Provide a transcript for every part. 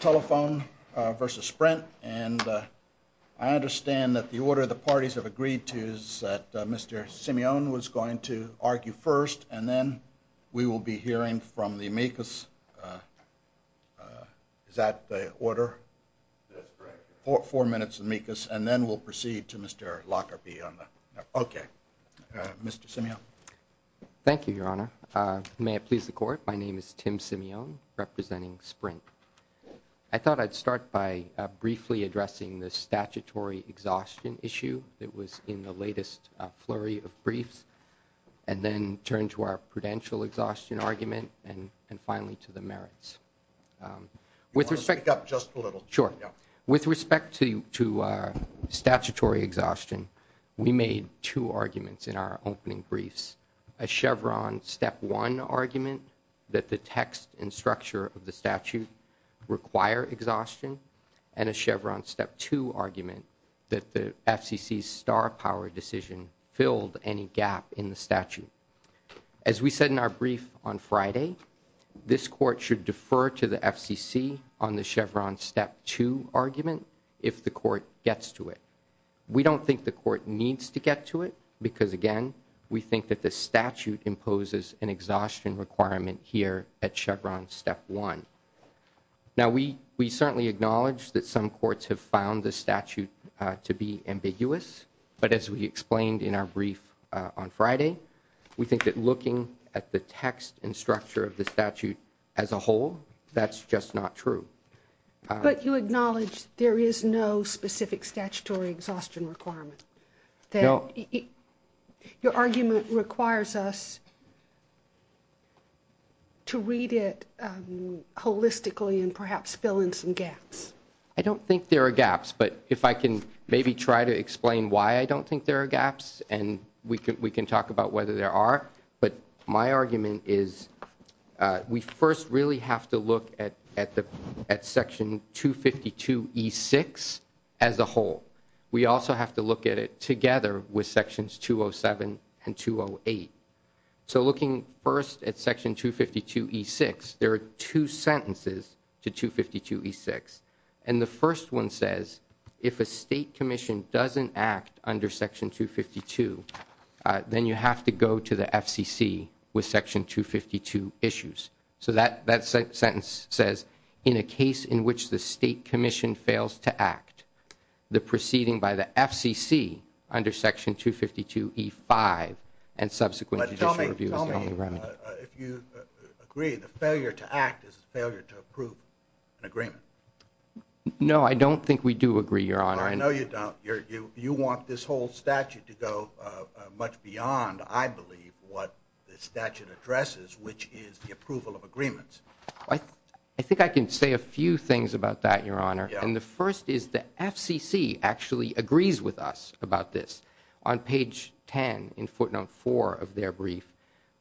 Telephone v. Sprint, and I understand that the order the parties have agreed to is that Mr. Simeon was going to argue first, and then we will be hearing from the amicus. Is that the order? Four minutes of amicus, and then we'll proceed to Mr. Lockerbie on that. Okay. Mr. Simeon. Thank you, Your Honor. May it please the Court, my name is Tim Simeon, representing Sprint. I thought I'd start by briefly addressing the statutory exhaustion issue that was in the latest flurry of briefs, and then turn to our prudential exhaustion argument, and finally to the merits. You want to speak up just a little. Sure. With respect to statutory exhaustion, we made two arguments in our opening briefs, a Chevron Step 1 argument that the text and structure of the statute require exhaustion, and a Chevron Step 2 argument that the FCC's star power decision filled any gap in the statute. As we said in our brief on Friday, this Court should defer to the FCC on the Chevron Step 2 argument if the Court gets to it. We don't think the Court needs to get to it because, again, we think that the statute imposes an exhaustion requirement here at Chevron Step 1. Now, we certainly acknowledge that some courts have found the statute to be ambiguous, but as we explained in our brief on Friday, we think that looking at the text and structure of the statute as a whole, that's just not true. But you acknowledge there is no specific statutory exhaustion requirement? No. Your argument requires us to read it holistically and perhaps fill in some gaps. I don't think there are gaps, but if I can maybe try to explain why I don't think there are gaps, and we can talk about whether there are. But my argument is we first really have to look at Section 252E6 as a whole. We also have to look at it together with Sections 207 and 208. So looking first at Section 252E6, there are two sentences to 252E6. And the first one says, if a state commission doesn't act under Section 252, then you have to go to the FCC with Section 252 issues. So that sentence says, in a case in which the state commission fails to act, the proceeding by the FCC under Section 252E5 and subsequent judicial review is commonly run. If you agree, the failure to act is a failure to approve an agreement. No, I don't think we do agree, Your Honor. No, you don't. You want this whole statute to go much beyond, I believe, what the statute addresses, which is the approval of agreements. I think I can say a few things about that, Your Honor. And the first is the FCC actually agrees with us about this. On page 10 in footnote 4 of their brief,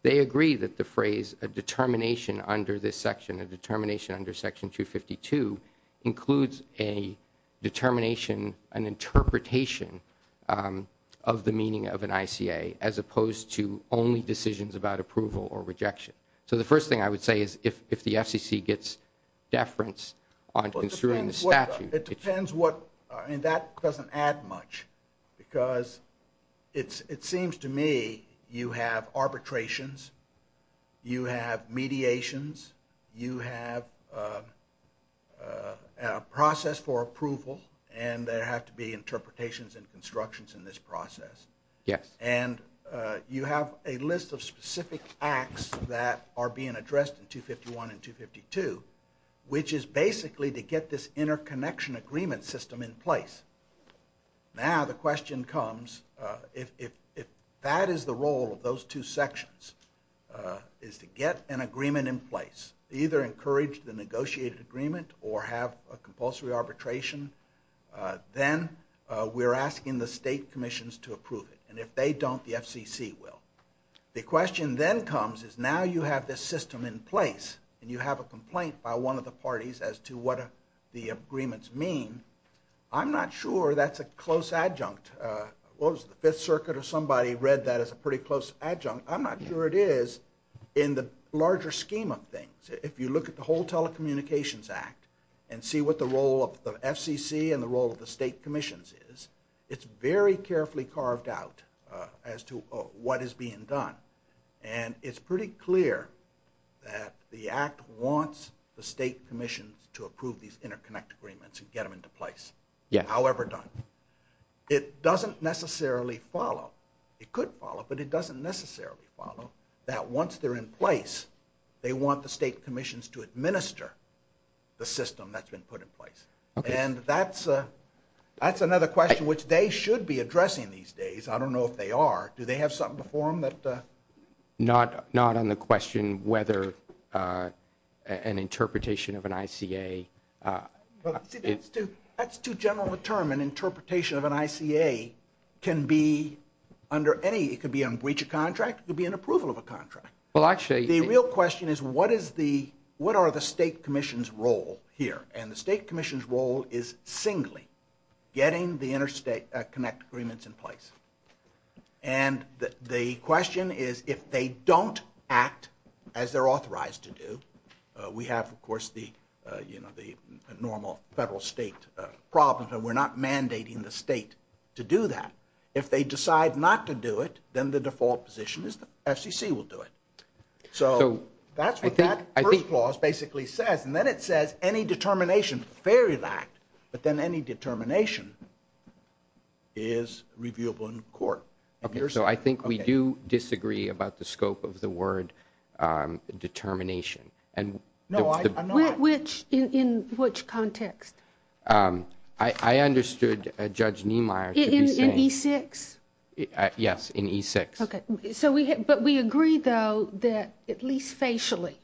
they agree that the phrase, a determination under this section, a determination under Section 252, includes a determination, an interpretation of the meaning of an ICA as opposed to only decisions about approval or rejection. So the first thing I would say is if the FCC gets deference on construing the statute. That doesn't add much because it seems to me you have arbitrations, you have mediations, you have a process for approval and there have to be interpretations and constructions in this process. Yes. And you have a list of specific acts that are being addressed in 251 and 252, which is basically to get this interconnection agreement system in place. Now the question comes, if that is the role of those two sections, is to get an agreement in place, either encourage the negotiated agreement or have a compulsory arbitration, then we're asking the state commissions to approve it. And if they don't, the FCC will. The question then comes is now you have this system in place and you have a complaint by one of the parties as to what the agreements mean. I'm not sure that's a close adjunct. What was it, the Fifth Circuit or somebody read that as a pretty close adjunct. I'm not sure it is in the larger scheme of things. If you look at the whole Telecommunications Act and see what the role of the FCC and the role of the state commissions is, it's very carefully carved out as to what is being done. And it's pretty clear that the act wants the state commissions to approve these interconnect agreements and get them into place, however done. It doesn't necessarily follow, it could follow, but it doesn't necessarily follow that once they're in place, they want the state commissions to administer the system that's been put in place. And that's another question which they should be addressing these days. I don't know if they are. Do they have something before them? Not on the question whether an interpretation of an ICA. That's too general a term. An interpretation of an ICA can be under any, it could be on breach of contract, it could be an approval of a contract. The real question is what is the, what are the state commission's role here? And the state commission's role is singly getting the interstate connect agreements in place. And the question is if they don't act as they're authorized to do, we have of course the, you know, the normal federal state problems and we're not mandating the state to do that. If they decide not to do it, then the default position is the FCC will do it. So that's what that first clause basically says. And then it says any determination fairly lacked, but then any determination is reviewable in court. Okay, so I think we do disagree about the scope of the word determination. No, I'm not. Which, in which context? I understood Judge Niemeyer. In E6? Yes, in E6. Okay, so we, but we agree though that at least facially,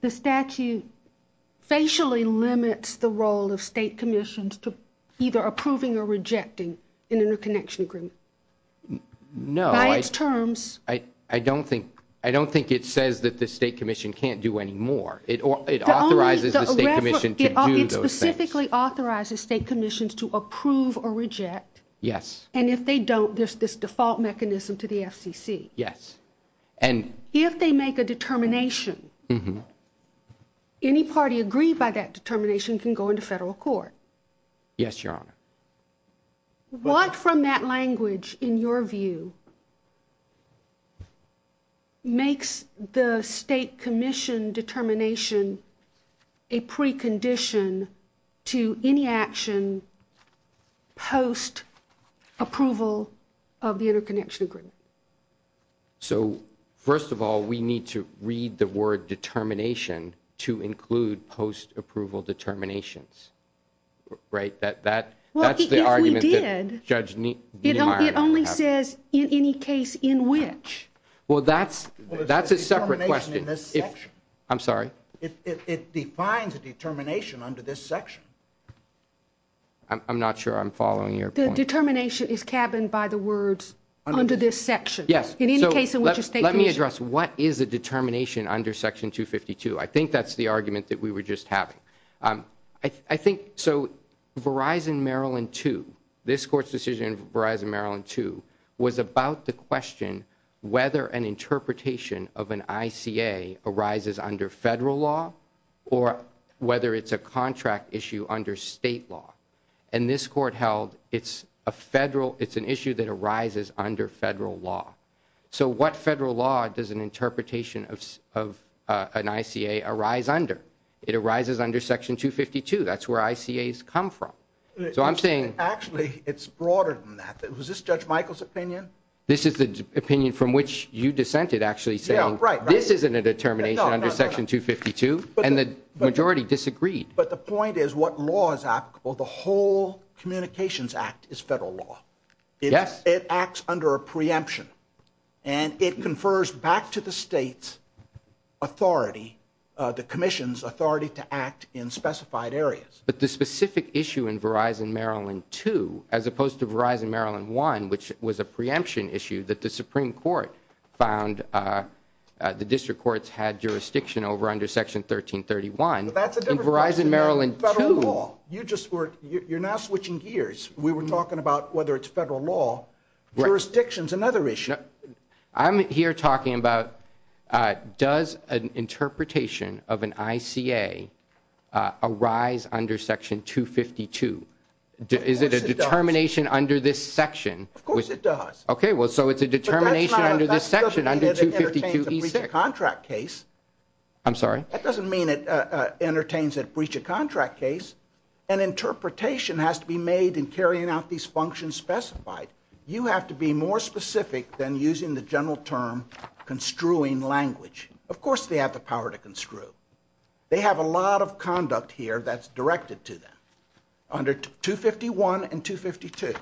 the statute facially limits the role of state commissions to either approving or rejecting an interconnection agreement. No. By its terms. I don't think, I don't think it says that the state commission can't do any more. It authorizes the state commission to do those things. It specifically authorizes state commissions to approve or reject. Yes. And if they don't, there's this default mechanism to the FCC. Yes. And if they make a determination, any party agreed by that determination can go into federal court. Yes, Your Honor. What from that language in your view makes the state commission determination a precondition to any action post-approval of the interconnection agreement? So, first of all, we need to read the word determination to include post-approval determinations, right? Well, if we did, it only says in any case in which. Well, that's a separate question. I'm sorry? It defines a determination under this section. I'm not sure I'm following your point. The determination is cabined by the words under this section. Yes. In any case in which a state commission. Let me address, what is a determination under Section 252? I think that's the argument that we were just having. I think, so Verizon Maryland 2, this court's decision of Verizon Maryland 2 was about the question whether an interpretation of an ICA arises under federal law or whether it's a contract issue under state law. And this court held it's a federal, it's an issue that arises under federal law. So what federal law does an interpretation of an ICA arise under? It arises under Section 252. That's where ICAs come from. So I'm saying. Actually, it's broader than that. Was this Judge Michael's opinion? This is the opinion from which you dissented actually saying this isn't a determination under Section 252. And the majority disagreed. But the point is what law is applicable, the whole Communications Act is federal law. Yes. It acts under a preemption. And it confers back to the state's authority, the Commission's authority to act in specified areas. But the specific issue in Verizon Maryland 2, as opposed to Verizon Maryland 1, which was a preemption issue that the Supreme Court found the district courts had jurisdiction over under Section 1331. But that's a different question than federal law. You're now switching gears. We were talking about whether it's federal law. Jurisdiction is another issue. I'm here talking about does an interpretation of an ICA arise under Section 252? Is it a determination under this section? Of course it does. Okay. Well, so it's a determination under this section, under 252E6. That doesn't mean it entertains a breach of contract case. I'm sorry? That doesn't mean it entertains a breach of contract case. An interpretation has to be made in carrying out these functions specified. You have to be more specific than using the general term construing language. Of course they have the power to construe. They have a lot of conduct here that's directed to them under 251 and 252.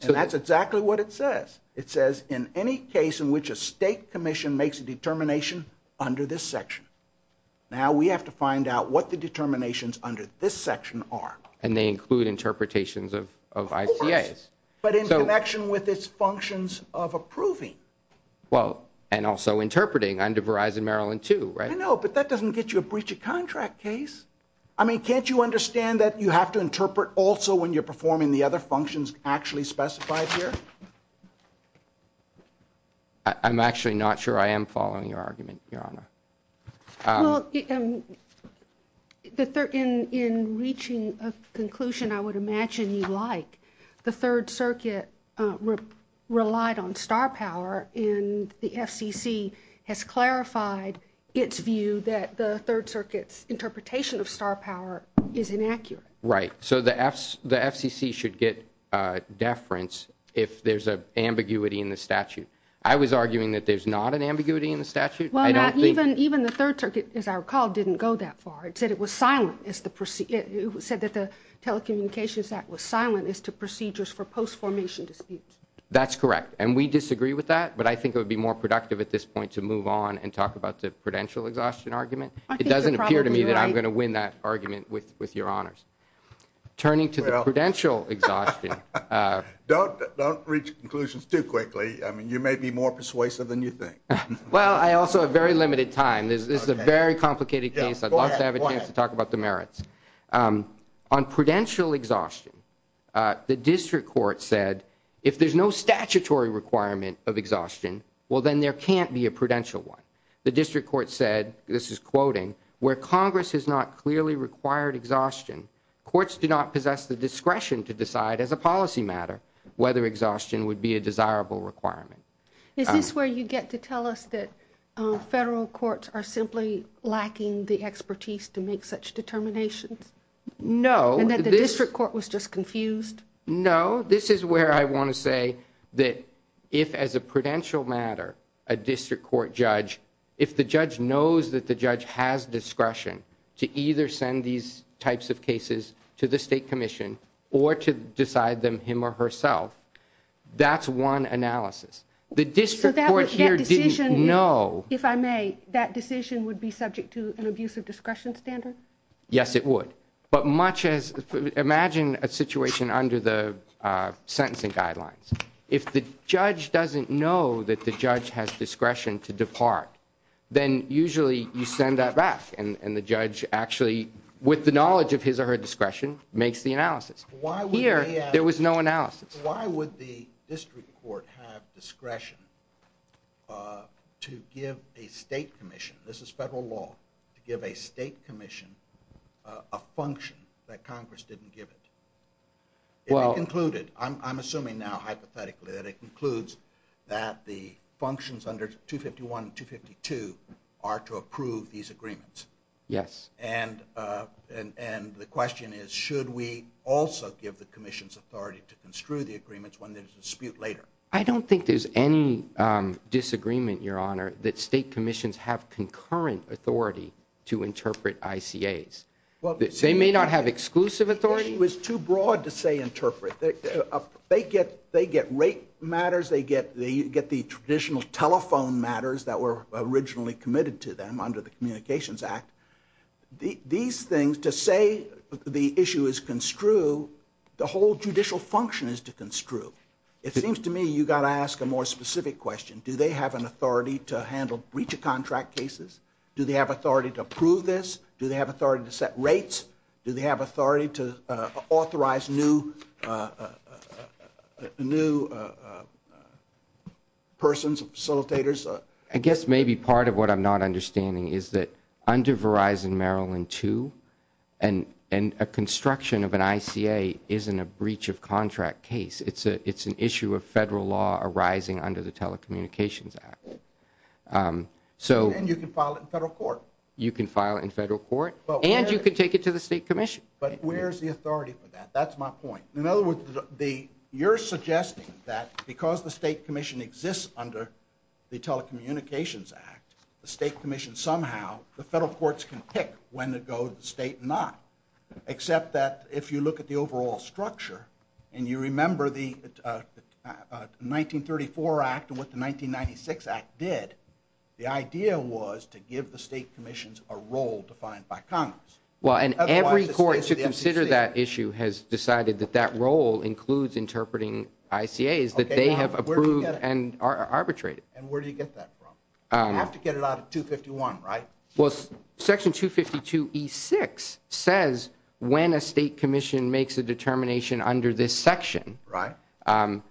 And that's exactly what it says. It says in any case in which a state commission makes a determination under this section. Now we have to find out what the determinations under this section are. And they include interpretations of ICAs. Of course. But in connection with its functions of approving. Well, and also interpreting under Verizon Maryland too, right? I know, but that doesn't get you a breach of contract case. I mean, can't you understand that you have to interpret also when you're performing the other functions actually specified here? I'm actually not sure I am following your argument, Your Honor. Well, in reaching a conclusion I would imagine you like, the Third Circuit relied on star power. And the FCC has clarified its view that the Third Circuit's interpretation of star power is inaccurate. Right. So the FCC should get deference if there's an ambiguity in the statute. I was arguing that there's not an ambiguity in the statute. Even the Third Circuit, as I recall, didn't go that far. It said it was silent. It said that the Telecommunications Act was silent as to procedures for post-formation disputes. That's correct. And we disagree with that. But I think it would be more productive at this point to move on and talk about the prudential exhaustion argument. I think you're probably right. It doesn't appear to me that I'm going to win that argument with Your Honors. Turning to the prudential exhaustion. Don't reach conclusions too quickly. I mean, you may be more persuasive than you think. Well, I also have very limited time. This is a very complicated case. I'd love to have a chance to talk about the merits. On prudential exhaustion, the district court said if there's no statutory requirement of exhaustion, well, then there can't be a prudential one. The district court said, this is quoting, where Congress has not clearly required exhaustion, courts do not possess the discretion to decide as a policy matter whether exhaustion would be a desirable requirement. Is this where you get to tell us that federal courts are simply lacking the expertise to make such determinations? No. And that the district court was just confused? No. This is where I want to say that if, as a prudential matter, a district court judge, if the judge knows that the judge has discretion to either send these types of cases to the state commission or to decide them him or herself, that's one analysis. The district court here didn't know. If I may, that decision would be subject to an abuse of discretion standard? Yes, it would. But imagine a situation under the sentencing guidelines. If the judge doesn't know that the judge has discretion to depart, then usually you send that back and the judge actually, with the knowledge of his or her discretion, makes the analysis. Here, there was no analysis. Why would the district court have discretion to give a state commission, this is federal law, to give a state commission a function that Congress didn't give it? If it concluded, I'm assuming now, hypothetically, that it concludes that the functions under 251 and 252 are to approve these agreements. Yes. And the question is, should we also give the commission's authority to construe the agreements when there's a dispute later? I don't think there's any disagreement, Your Honor, that state commissions have concurrent authority to interpret ICAs. They may not have exclusive authority. The question was too broad to say interpret. They get rate matters. They get the traditional telephone matters that were originally committed to them under the Communications Act. These things, to say the issue is construe, the whole judicial function is to construe. It seems to me you've got to ask a more specific question. Do they have an authority to handle breach of contract cases? Do they have authority to approve this? Do they have authority to set rates? Do they have authority to authorize new persons, facilitators? I guess maybe part of what I'm not understanding is that under Verizon Maryland 2, and a construction of an ICA isn't a breach of contract case. It's an issue of federal law arising under the Telecommunications Act. And you can file it in federal court. You can file it in federal court. And you can take it to the state commission. But where's the authority for that? That's my point. In other words, you're suggesting that because the state commission exists under the Telecommunications Act, the state commission somehow, the federal courts can pick when to go to the state and not. Except that if you look at the overall structure, and you remember the 1934 Act and what the 1996 Act did, the idea was to give the state commissions a role defined by Congress. Well, and every court to consider that issue has decided that that role includes interpreting ICAs that they have approved and are arbitrated. And where do you get that from? You have to get it out of 251, right? Well, Section 252E6 says when a state commission makes a determination under this section. Right. What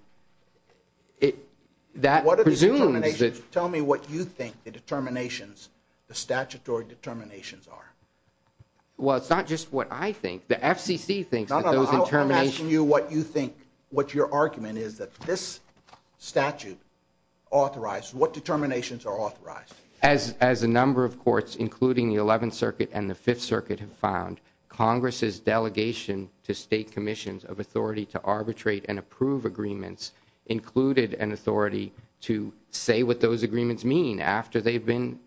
are the determinations? Tell me what you think the determinations, the statutory determinations are. Well, it's not just what I think. The FCC thinks that those determinations. I'm asking you what you think, what your argument is that this statute authorized, what determinations are authorized? As a number of courts, including the 11th Circuit and the 5th Circuit have found, Congress's delegation to state commissions of authority to arbitrate and approve agreements included an authority to say what those agreements mean after they've been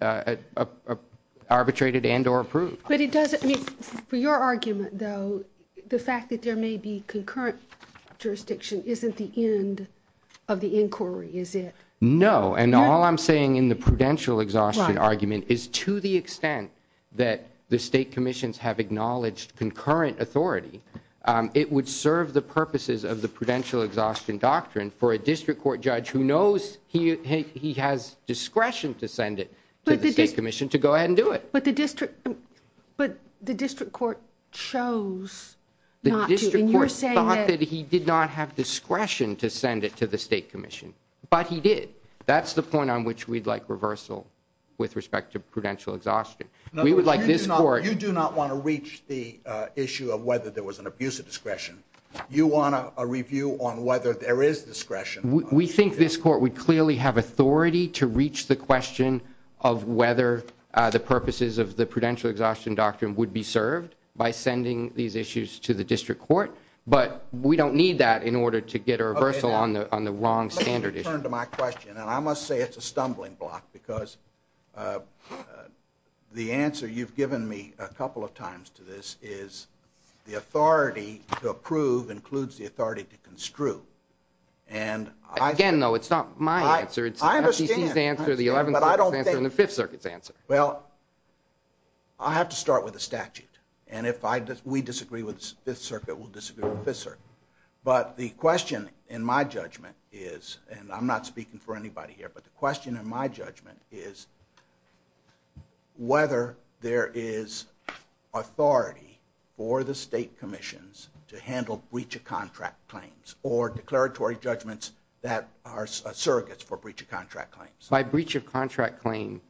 arbitrated and or approved. But it doesn't, for your argument, though, the fact that there may be concurrent jurisdiction isn't the end of the inquiry, is it? No. And all I'm saying in the prudential exhaustion argument is to the extent that the state commissions have acknowledged concurrent authority, it would serve the purposes of the prudential exhaustion doctrine for a district court judge who knows he has discretion to send it to the state commission to go ahead and do it. But the district court chose not to. He did not have discretion to send it to the state commission, but he did. That's the point on which we'd like reversal with respect to prudential exhaustion. We would like this court. You do not want to reach the issue of whether there was an abuse of discretion. You want a review on whether there is discretion. We think this court would clearly have authority to reach the question of whether the purposes of the prudential exhaustion doctrine would be served by sending these issues to the district court. But we don't need that in order to get a reversal on the wrong standard issue. Let me turn to my question. And I must say it's a stumbling block because the answer you've given me a couple of times to this is the authority to approve includes the authority to construe. Again, though, it's not my answer. It's the FCC's answer, the Eleventh Circuit's answer, and the Fifth Circuit's answer. Well, I have to start with the statute. And if we disagree with the Fifth Circuit, we'll disagree with the Fifth Circuit. But the question in my judgment is, and I'm not speaking for anybody here, but the question in my judgment is whether there is authority for the state commissions to handle breach of contract claims or declaratory judgments that are surrogates for breach of contract claims. By breach of contract claim,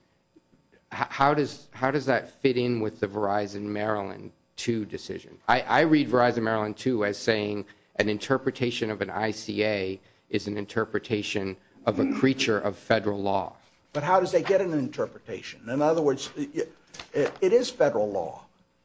how does that fit in with the Verizon Maryland 2 decision? I read Verizon Maryland 2 as saying an interpretation of an ICA is an interpretation of a creature of federal law. But how does they get an interpretation? In other words, it is federal law.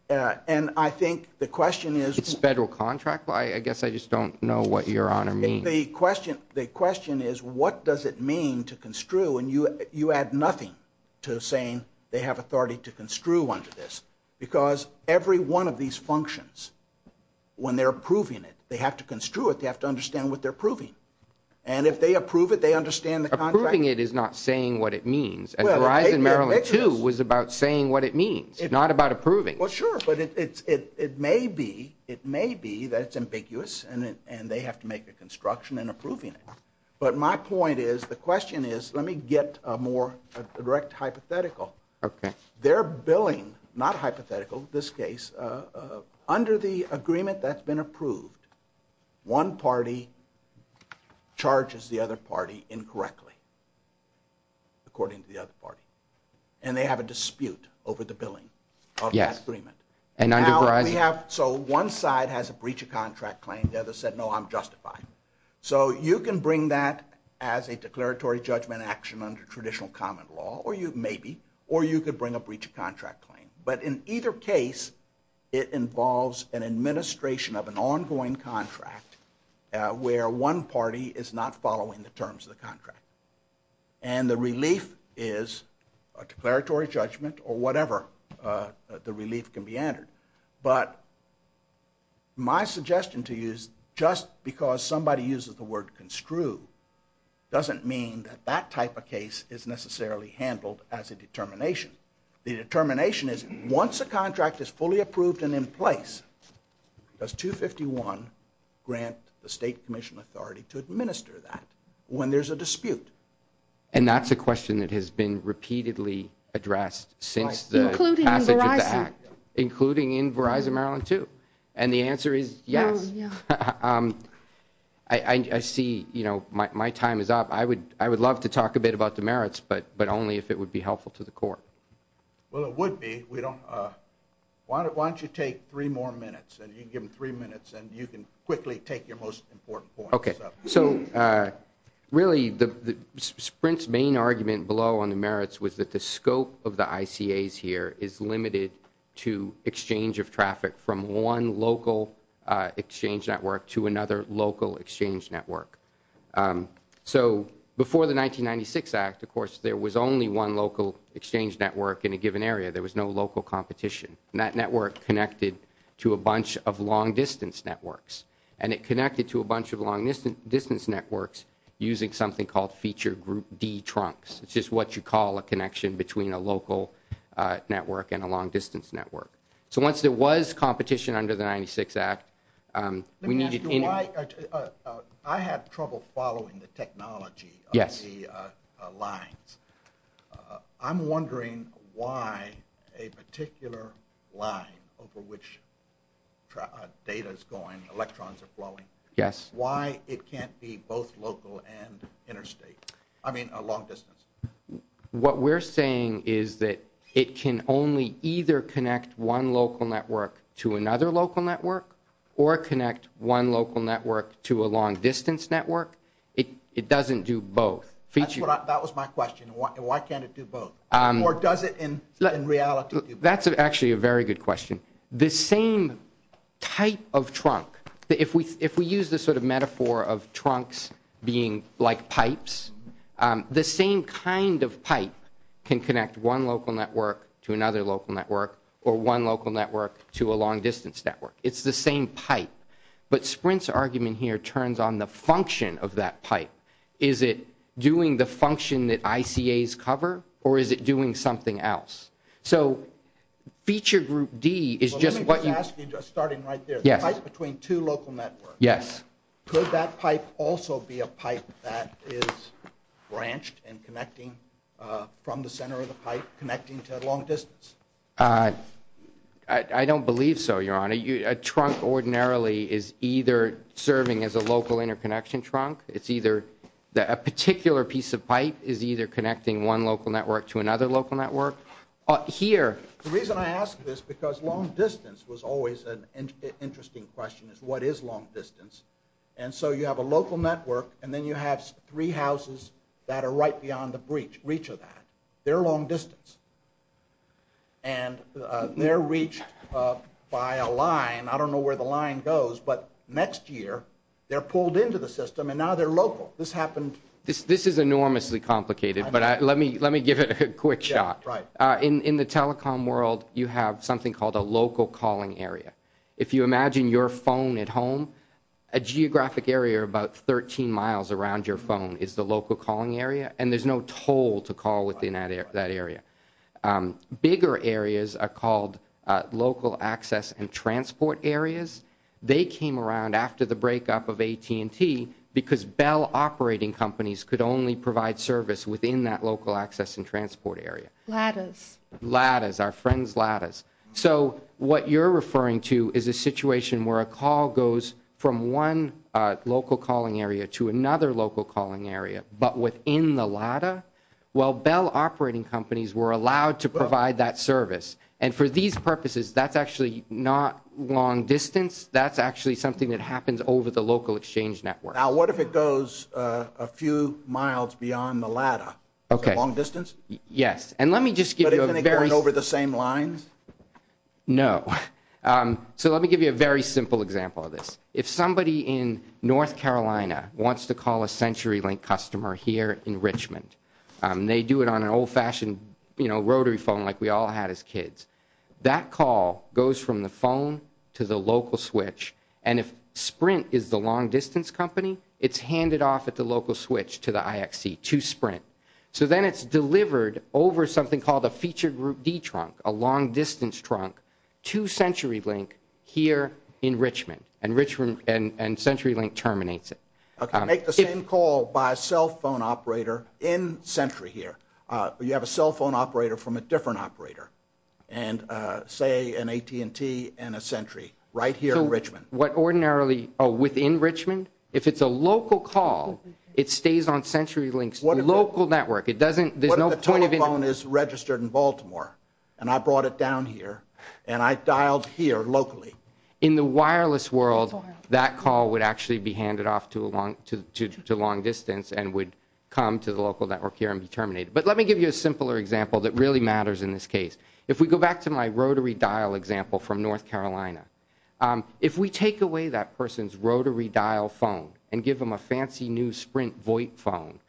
And I think the question is – It's federal contract. I guess I just don't know what Your Honor means. The question is, what does it mean to construe? And you add nothing to saying they have authority to construe under this. Because every one of these functions, when they're approving it, they have to construe it. They have to understand what they're approving. And if they approve it, they understand the contract. Approving it is not saying what it means. And Verizon Maryland 2 was about saying what it means, not about approving. Well, sure, but it may be that it's ambiguous and they have to make a construction in approving it. But my point is, the question is, let me get a more direct hypothetical. Okay. Their billing, not hypothetical in this case, under the agreement that's been approved, one party charges the other party incorrectly, according to the other party. And they have a dispute over the billing of that agreement. So one side has a breach of contract claim. The other said, no, I'm justifying. So you can bring that as a declaratory judgment action under traditional common law, or you could bring a breach of contract claim. But in either case, it involves an administration of an ongoing contract where one party is not following the terms of the contract. And the relief is a declaratory judgment or whatever the relief can be entered. But my suggestion to you is just because somebody uses the word construe doesn't mean that that type of case is necessarily handled as a determination. The determination is once a contract is fully approved and in place, does 251 grant the state commission authority to administer that when there's a dispute? And that's a question that has been repeatedly addressed since the passage of the act. Including in Verizon. Including in Verizon Maryland too. And the answer is yes. I see, you know, my time is up. I would love to talk a bit about demerits, but only if it would be helpful to the court. Well, it would be. Why don't you take three more minutes, and you can give them three minutes, and you can quickly take your most important points. Okay. So really Sprint's main argument below on the merits was that the scope of the ICAs here is limited to exchange of traffic from one local exchange network to another local exchange network. So before the 1996 act, of course, there was only one local exchange network in a given area. There was no local competition. And that network connected to a bunch of long-distance networks. And it connected to a bunch of long-distance networks using something called feature group D trunks. It's just what you call a connection between a local network and a long-distance network. So once there was competition under the 96 act, we needed anyway. I have trouble following the technology of the lines. I'm wondering why a particular line over which data is going, electrons are flowing, why it can't be both local and interstate, I mean long-distance. What we're saying is that it can only either connect one local network to another local network or connect one local network to a long-distance network. It doesn't do both. That was my question. Why can't it do both? Or does it in reality do both? That's actually a very good question. The same type of trunk, if we use this sort of metaphor of trunks being like pipes, the same kind of pipe can connect one local network to another local network or one local network to a long-distance network. It's the same pipe. But Sprint's argument here turns on the function of that pipe. Is it doing the function that ICAs cover or is it doing something else? So feature group D is just what you… Let me just ask you, just starting right there. Yes. The pipe between two local networks. Yes. Could that pipe also be a pipe that is branched and connecting from the center of the pipe, connecting to a long-distance? I don't believe so, Your Honor. A trunk ordinarily is either serving as a local interconnection trunk. It's either a particular piece of pipe is either connecting one local network to another local network. Here. The reason I ask this is because long-distance was always an interesting question is what is long-distance. And so you have a local network and then you have three houses that are right beyond the reach of that. They're long-distance. And they're reached by a line. I don't know where the line goes. But next year, they're pulled into the system and now they're local. This happened. This is enormously complicated, but let me give it a quick shot. Right. In the telecom world, you have something called a local calling area. If you imagine your phone at home, a geographic area about 13 miles around your phone is the local calling area, and there's no toll to call within that area. Bigger areas are called local access and transport areas. They came around after the breakup of AT&T because Bell operating companies could only provide service within that local access and transport area. Ladders. Ladders, our friends' ladders. So what you're referring to is a situation where a call goes from one local calling area to another local calling area, but within the ladder? Well, Bell operating companies were allowed to provide that service. And for these purposes, that's actually not long distance. That's actually something that happens over the local exchange network. Now, what if it goes a few miles beyond the ladder? Okay. Long distance? Yes. But isn't it going over the same lines? No. So let me give you a very simple example of this. If somebody in North Carolina wants to call a CenturyLink customer here in Richmond, they do it on an old-fashioned rotary phone like we all had as kids. That call goes from the phone to the local switch. And if Sprint is the long distance company, it's handed off at the local switch to the IXC to Sprint. So then it's delivered over something called a feature group D trunk, a long distance trunk, to CenturyLink here in Richmond, and CenturyLink terminates it. Okay. Make the same call by a cell phone operator in Century here. You have a cell phone operator from a different operator and, say, an AT&T and a Century right here in Richmond. So what ordinarily within Richmond, if it's a local call, it stays on CenturyLink's local network. There's no point in it. What if the telephone is registered in Baltimore, and I brought it down here, and I dialed here locally? In the wireless world, that call would actually be handed off to long distance and would come to the local network here and be terminated. But let me give you a simpler example that really matters in this case. If we go back to my rotary dial example from North Carolina, if we take away that person's rotary dial phone and give them a fancy new Sprint VoIP phone,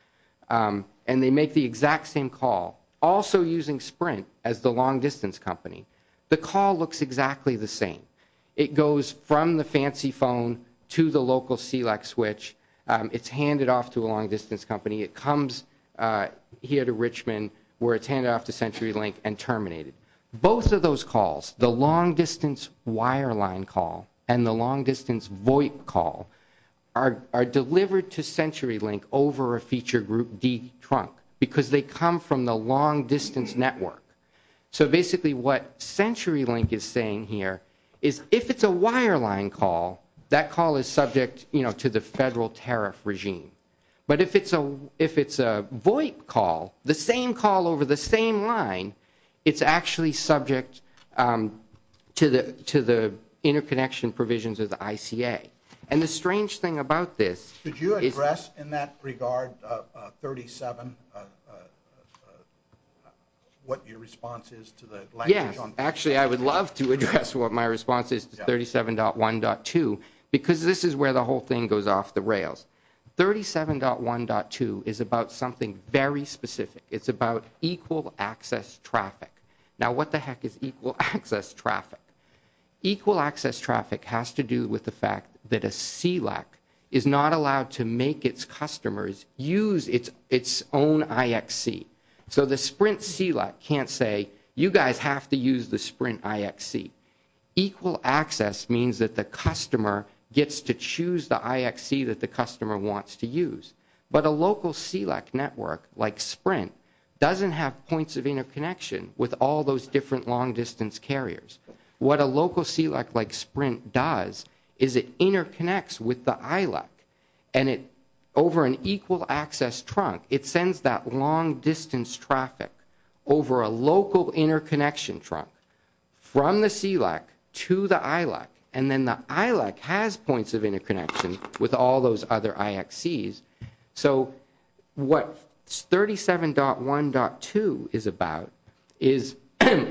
and they make the exact same call, also using Sprint as the long distance company, the call looks exactly the same. It goes from the fancy phone to the local SELAC switch. It's handed off to a long distance company. It comes here to Richmond where it's handed off to CenturyLink and terminated. Both of those calls, the long distance wireline call and the long distance VoIP call, are delivered to CenturyLink over a feature group D trunk because they come from the long distance network. So basically what CenturyLink is saying here is if it's a wireline call, that call is subject to the federal tariff regime. But if it's a VoIP call, the same call over the same line, it's actually subject to the interconnection provisions of the ICA. And the strange thing about this is... Could you address in that regard 37 what your response is to the language on... Yes, actually I would love to address what my response is to 37.1.2 because this is where the whole thing goes off the rails. 37.1.2 is about something very specific. It's about equal access traffic. Now what the heck is equal access traffic? Equal access traffic has to do with the fact that a CLEC is not allowed to make its customers use its own IXC. So the Sprint CLEC can't say you guys have to use the Sprint IXC. Equal access means that the customer gets to choose the IXC that the customer wants to use. But a local CLEC network like Sprint doesn't have points of interconnection with all those different long-distance carriers. What a local CLEC like Sprint does is it interconnects with the ILAC. And over an equal access trunk, it sends that long-distance traffic over a local interconnection trunk from the CLEC to the ILAC. And then the ILAC has points of interconnection with all those other IXCs. So what 37.1.2 is about is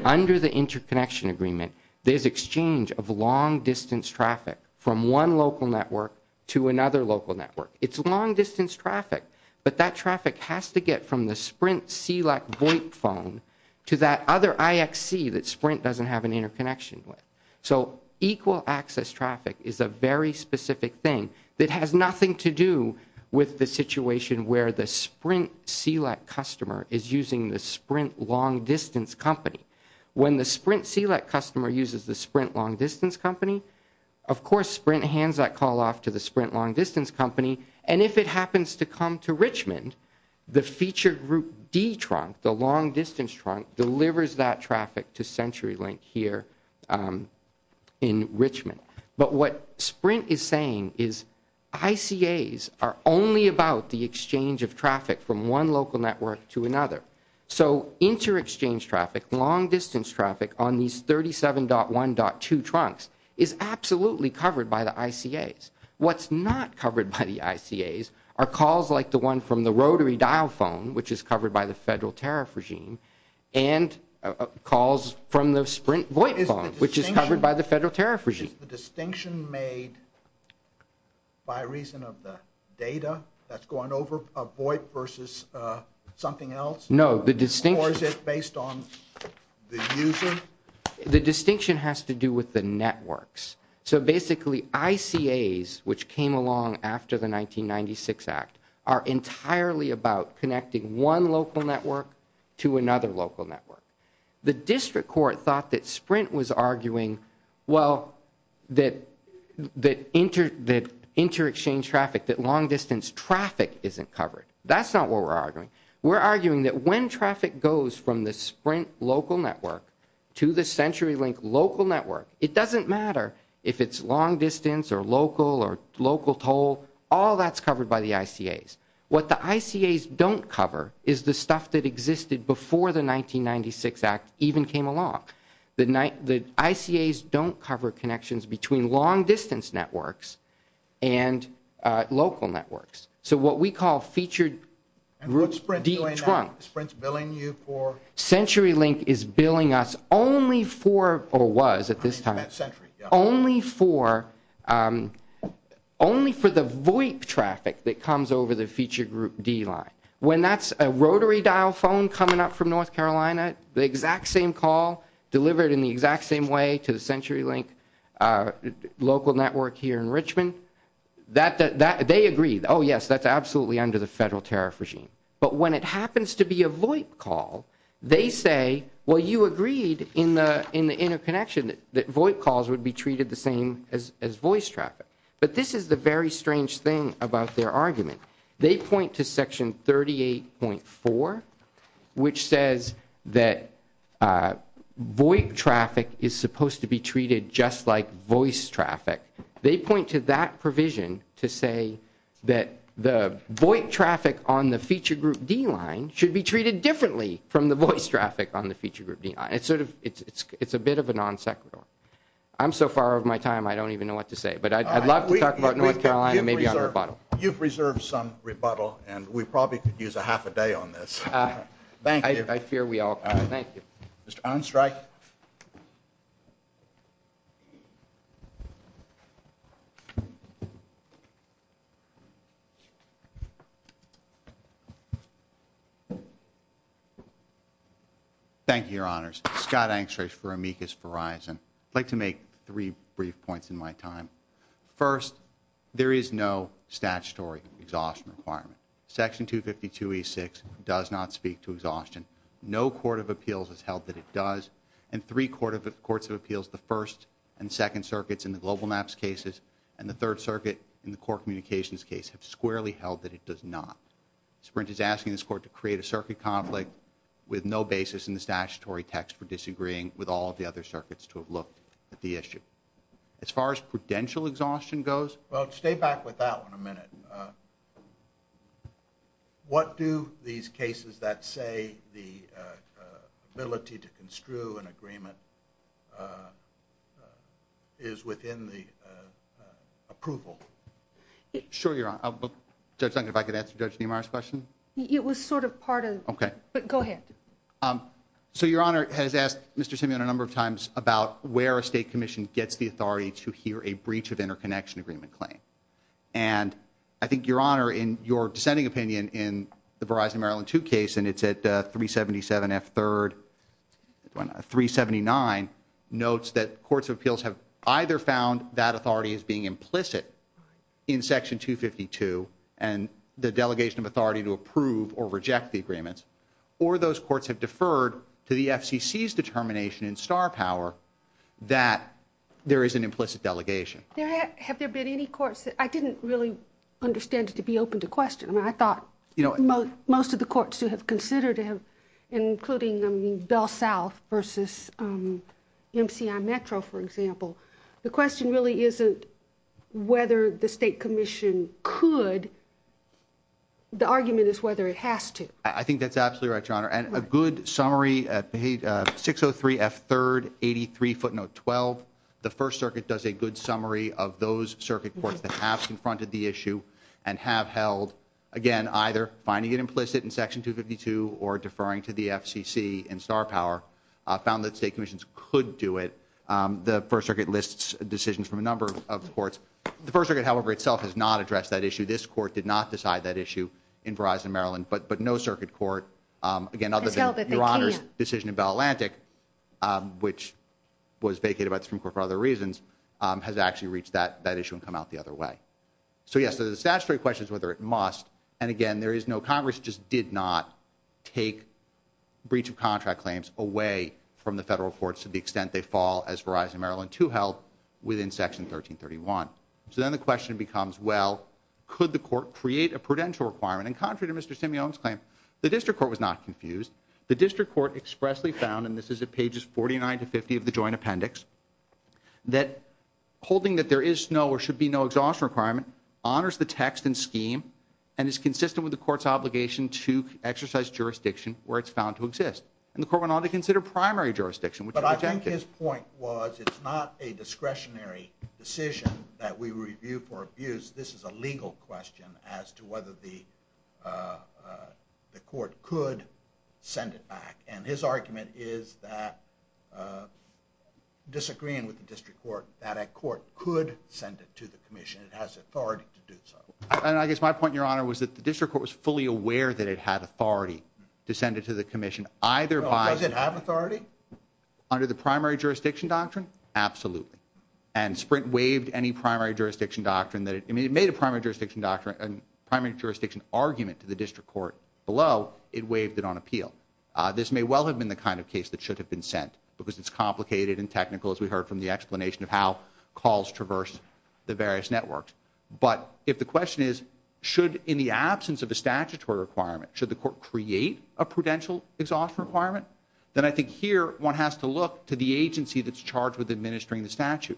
under the interconnection agreement, there's exchange of long-distance traffic from one local network to another local network. It's long-distance traffic, but that traffic has to get from the Sprint CLEC VoIP phone to that other IXC that Sprint doesn't have an interconnection with. So equal access traffic is a very specific thing that has nothing to do with the situation where the Sprint CLEC customer is using the Sprint long-distance company. When the Sprint CLEC customer uses the Sprint long-distance company, of course Sprint hands that call off to the Sprint long-distance company. And if it happens to come to Richmond, the feature group D trunk, the long-distance trunk delivers that traffic to CenturyLink here in Richmond. But what Sprint is saying is ICAs are only about the exchange of traffic from one local network to another. So inter-exchange traffic, long-distance traffic on these 37.1.2 trunks is absolutely covered by the ICAs. What's not covered by the ICAs are calls like the one from the rotary dial phone, which is covered by the federal tariff regime, and calls from the Sprint VoIP phone, which is covered by the federal tariff regime. Is the distinction made by reason of the data that's going over VoIP versus something else? No. Or is it based on the user? The distinction has to do with the networks. So basically ICAs, which came along after the 1996 Act, are entirely about connecting one local network to another local network. The district court thought that Sprint was arguing, well, that inter-exchange traffic, that long-distance traffic isn't covered. That's not what we're arguing. We're arguing that when traffic goes from the Sprint local network to the CenturyLink local network, it doesn't matter if it's long-distance or local or local toll. All that's covered by the ICAs. What the ICAs don't cover is the stuff that existed before the 1996 Act even came along. The ICAs don't cover connections between long-distance networks and local networks. So what we call featured deep trunk. And what's Sprint doing now? Is Sprint billing you for? CenturyLink is billing us only for, or was at this time, only for the VOIP traffic that comes over the featured group D line. When that's a rotary dial phone coming up from North Carolina, the exact same call, delivered in the exact same way to the CenturyLink local network here in Richmond, they agree, oh, yes, that's absolutely under the federal tariff regime. But when it happens to be a VOIP call, they say, well, you agreed in the interconnection that VOIP calls would be treated the same as voice traffic. But this is the very strange thing about their argument. They point to Section 38.4, which says that VOIP traffic is supposed to be treated just like voice traffic. They point to that provision to say that the VOIP traffic on the featured group D line should be treated differently from the voice traffic on the featured group D line. It's a bit of a non sequitur. I'm so far over my time I don't even know what to say. But I'd love to talk about North Carolina maybe on rebuttal. You've reserved some rebuttal, and we probably could use a half a day on this. Thank you. I fear we all could. Thank you. Mr. Unstreich. Thank you, Your Honors. Scott Unstreich for Amicus Verizon. I'd like to make three brief points in my time. First, there is no statutory exhaustion requirement. Section 252E6 does not speak to exhaustion. No court of appeals has held that it does. And three courts of appeals, the First and Second Circuits in the GlobalMaps cases and the Third Circuit in the Core Communications case have squarely held that it does not. Sprint is asking this court to create a circuit conflict with no basis in the statutory text for disagreeing with all of the other circuits to have looked at the issue. As far as prudential exhaustion goes. Well, stay back with that one a minute. What do these cases that say the ability to construe an agreement is within the approval? Sure, Your Honor. Judge Duncan, if I could answer Judge Niemeyer's question. It was sort of part of. Okay. But go ahead. So Your Honor has asked Mr. Simeon a number of times about where a state commission gets the authority to hear a breach of interconnection agreement claim. And I think, Your Honor, in your dissenting opinion in the Verizon Maryland 2 case, and it's at 377F3rd, 379, notes that courts of appeals have either found that authority as being implicit in Section 252 and the delegation of authority to approve or reject the agreements, or those courts have deferred to the FCC's determination in star power that there is an implicit delegation. Have there been any courts that I didn't really understand to be open to question. I mean, I thought most of the courts who have considered it, including Bell South versus MCI Metro, for example, the question really isn't whether the state commission could. The argument is whether it has to. And a good summary, 603F3rd, 83 footnote 12. The First Circuit does a good summary of those circuit courts that have confronted the issue and have held, again, either finding it implicit in Section 252 or deferring to the FCC in star power, found that state commissions could do it. The First Circuit lists decisions from a number of courts. The First Circuit, however, itself has not addressed that issue. This court did not decide that issue in Verizon Maryland. But no circuit court, again, other than Your Honor's decision in Bell Atlantic, which was vacated by the Supreme Court for other reasons, has actually reached that issue and come out the other way. So, yes, the statutory question is whether it must. And, again, there is no Congress just did not take breach of contract claims away from the federal courts to the extent they fall as Verizon Maryland to help within Section 1331. So then the question becomes, well, could the court create a prudential requirement? And contrary to Mr. Simeon's claim, the district court was not confused. The district court expressly found, and this is at pages 49 to 50 of the joint appendix, that holding that there is no or should be no exhaustion requirement honors the text and scheme and is consistent with the court's obligation to exercise jurisdiction where it's found to exist. And the court went on to consider primary jurisdiction. But I think his point was it's not a discretionary decision that we review for abuse. This is a legal question as to whether the court could send it back. And his argument is that, disagreeing with the district court, that a court could send it to the commission. It has authority to do so. And I guess my point, Your Honor, was that the district court was fully aware that it had authority to send it to the commission either by. Does it have authority? Under the primary jurisdiction doctrine, absolutely. And Sprint waived any primary jurisdiction doctrine. It made a primary jurisdiction argument to the district court below. It waived it on appeal. This may well have been the kind of case that should have been sent because it's complicated and technical, as we heard from the explanation of how calls traverse the various networks. But if the question is, should, in the absence of a statutory requirement, should the court create a prudential exhaustion requirement, then I think here one has to look to the agency that's charged with administering the statute.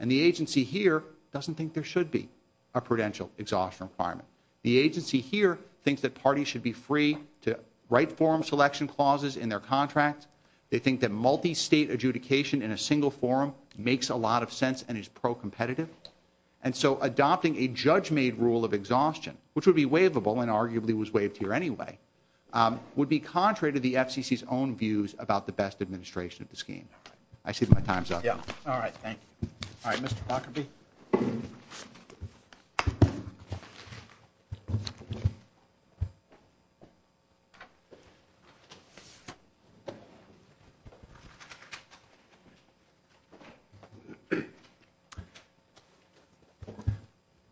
And the agency here doesn't think there should be a prudential exhaustion requirement. The agency here thinks that parties should be free to write forum selection clauses in their contracts. They think that multi-state adjudication in a single forum makes a lot of sense and is pro-competitive. And so adopting a judge-made rule of exhaustion, which would be waivable and arguably was waived here anyway, would be contrary to the FCC's own views about the best administration of the scheme. I see my time's up. Yeah. All right. Thank you. All right. Mr. Lockerbie. Thank you.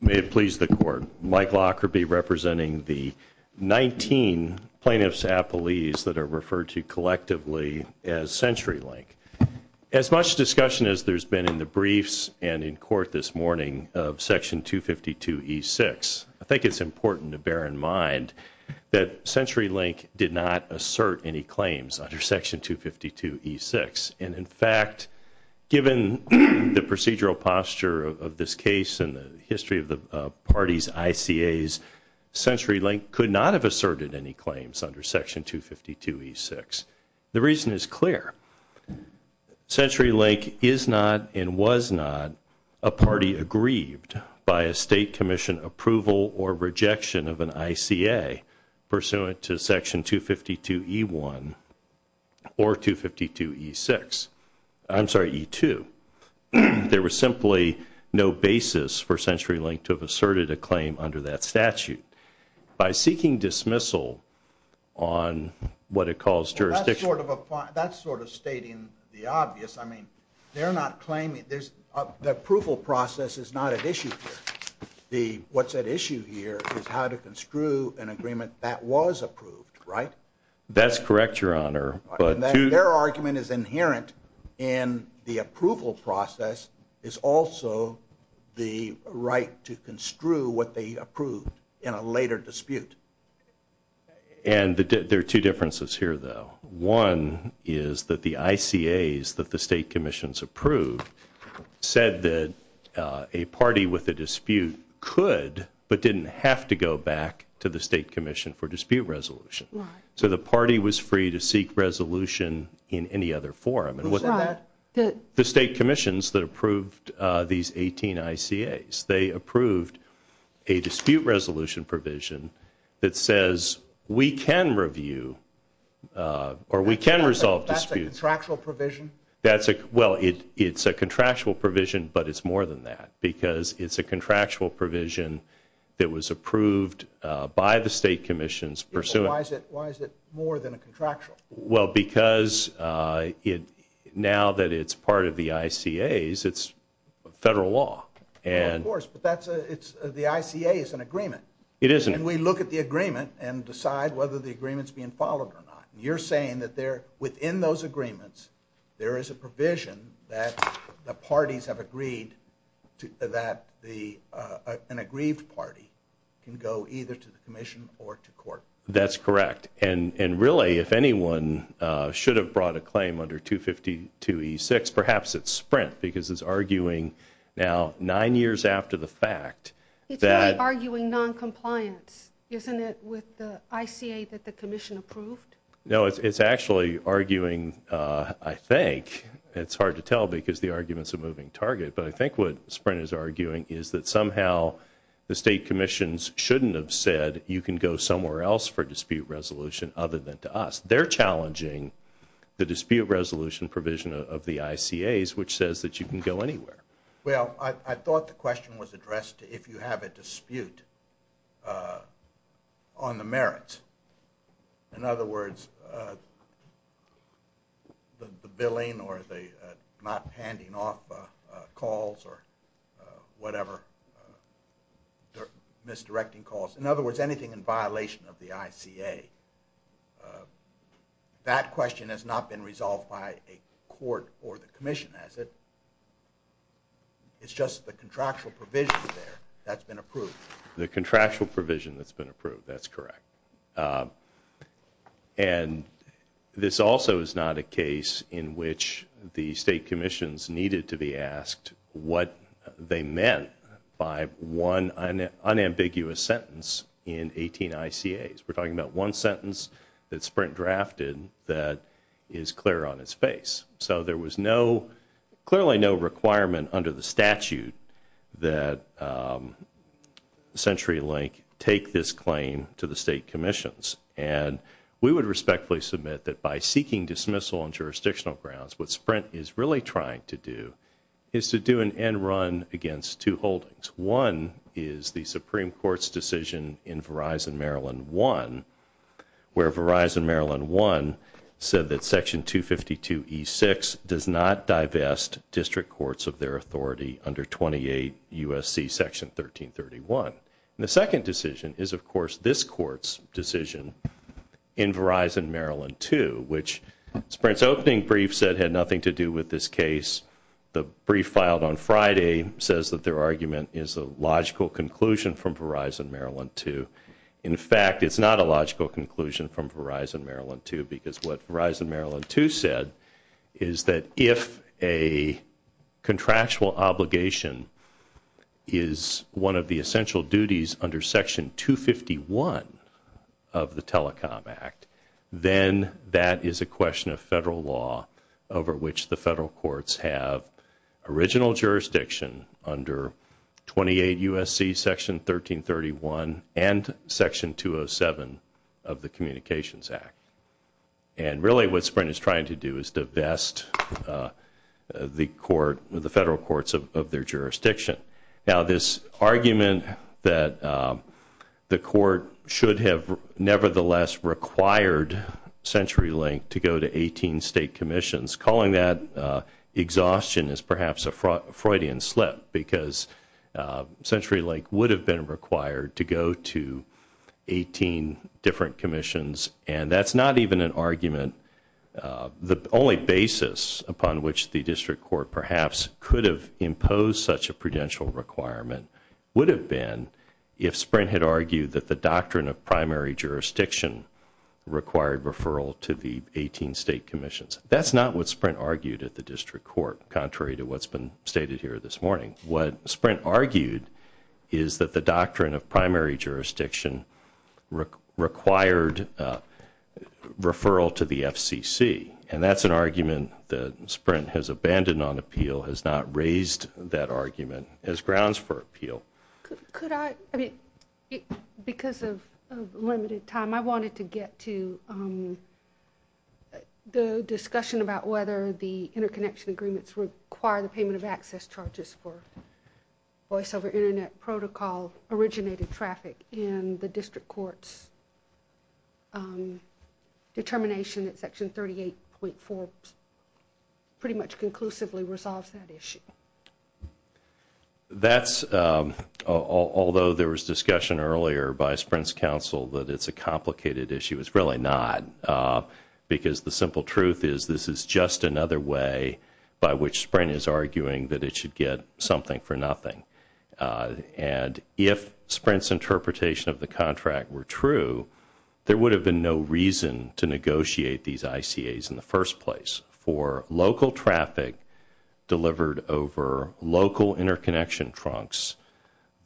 May it please the court. Mike Lockerbie representing the 19 plaintiffs' appellees that are referred to collectively as CenturyLink. As much discussion as there's been in the briefs and in court this morning of Section 252E6, I think it's important to bear in mind that CenturyLink did not assert any claims under Section 252E6. And in fact, given the procedural posture of this case and the history of the parties' ICAs, CenturyLink could not have asserted any claims under Section 252E6. The reason is clear. CenturyLink is not and was not a party aggrieved by a state commission approval or rejection of an ICA pursuant to Section 252E1 or 252E6. I'm sorry, E2. There was simply no basis for CenturyLink to have asserted a claim under that statute. By seeking dismissal on what it calls jurisdiction. Well, that's sort of stating the obvious. I mean, they're not claiming. The approval process is not at issue here. What's at issue here is how to construe an agreement that was approved, right? That's correct, Your Honor. Their argument is inherent in the approval process. It's also the right to construe what they approved in a later dispute. And there are two differences here, though. One is that the ICAs that the state commissions approved said that a party with a dispute could but didn't have to go back to the state commission for dispute resolution. So the party was free to seek resolution in any other forum. Who said that? The state commissions that approved these 18 ICAs. They approved a dispute resolution provision that says we can review or we can resolve disputes. That's a contractual provision? Well, it's a contractual provision, but it's more than that because it's a contractual provision that was approved by the state commissions pursuant Why is it more than a contractual? Well, because now that it's part of the ICAs, it's federal law. Well, of course, but the ICA is an agreement. It isn't. And we look at the agreement and decide whether the agreement's being followed or not. You're saying that within those agreements, there is a provision that the parties have agreed that an aggrieved party can go either to the commission or to court. That's correct. And really, if anyone should have brought a claim under 252E6, perhaps it's Sprint because it's arguing now nine years after the fact that It's really arguing noncompliance, isn't it, with the ICA that the commission approved? No, it's actually arguing, I think, it's hard to tell because the argument's a moving target, but I think what Sprint is arguing is that somehow the state commissions shouldn't have said you can go somewhere else for dispute resolution other than to us. They're challenging the dispute resolution provision of the ICAs, which says that you can go anywhere. Well, I thought the question was addressed if you have a dispute on the merits. In other words, the billing or the not handing off calls or whatever, misdirecting calls. In other words, anything in violation of the ICA. That question has not been resolved by a court or the commission, has it? It's just the contractual provision there that's been approved. The contractual provision that's been approved, that's correct. And this also is not a case in which the state commissions needed to be asked what they meant by one unambiguous sentence in 18 ICAs. We're talking about one sentence that Sprint drafted that is clear on its face. So there was clearly no requirement under the statute that CenturyLink take this claim to the state commissions. And we would respectfully submit that by seeking dismissal on jurisdictional grounds, what Sprint is really trying to do is to do an end run against two holdings. One is the Supreme Court's decision in Verizon Maryland 1, where Verizon Maryland 1 said that Section 252E6 does not divest district courts of their authority under 28 U.S.C. Section 1331. And the second decision is, of course, this court's decision in Verizon Maryland 2, which Sprint's opening brief said had nothing to do with this case. The brief filed on Friday says that their argument is a logical conclusion from Verizon Maryland 2. In fact, it's not a logical conclusion from Verizon Maryland 2 because what Verizon Maryland 2 said is that if a contractual obligation is one of the essential duties under Section 251 of the Telecom Act, then that is a question of federal law over which the federal courts have original jurisdiction under 28 U.S.C. Section 1331 and Section 207 of the Communications Act. And really what Sprint is trying to do is divest the federal courts of their jurisdiction. Now, this argument that the court should have nevertheless required CenturyLink to go to 18 state commissions, calling that exhaustion is perhaps a Freudian slip because CenturyLink would have been required to go to 18 different commissions, and that's not even an argument. The only basis upon which the district court perhaps could have imposed such a prudential requirement would have been if Sprint had argued that the doctrine of primary jurisdiction required referral to the 18 state commissions. That's not what Sprint argued at the district court, contrary to what's been stated here this morning. What Sprint argued is that the doctrine of primary jurisdiction required referral to the FCC, and that's an argument that Sprint has abandoned on appeal, has not raised that argument as grounds for appeal. Could I, because of limited time, I wanted to get to the discussion about whether the interconnection agreements require the payment of access charges for voice over Internet protocol originated traffic in the district court's determination that Section 38.4 pretty much conclusively resolves that issue. That's, although there was discussion earlier by Sprint's counsel that it's a complicated issue, it's really not, because the simple truth is this is just another way by which Sprint is arguing that it should get something for nothing. And if Sprint's interpretation of the contract were true, there would have been no reason to negotiate these ICAs in the first place. For local traffic delivered over local interconnection trunks,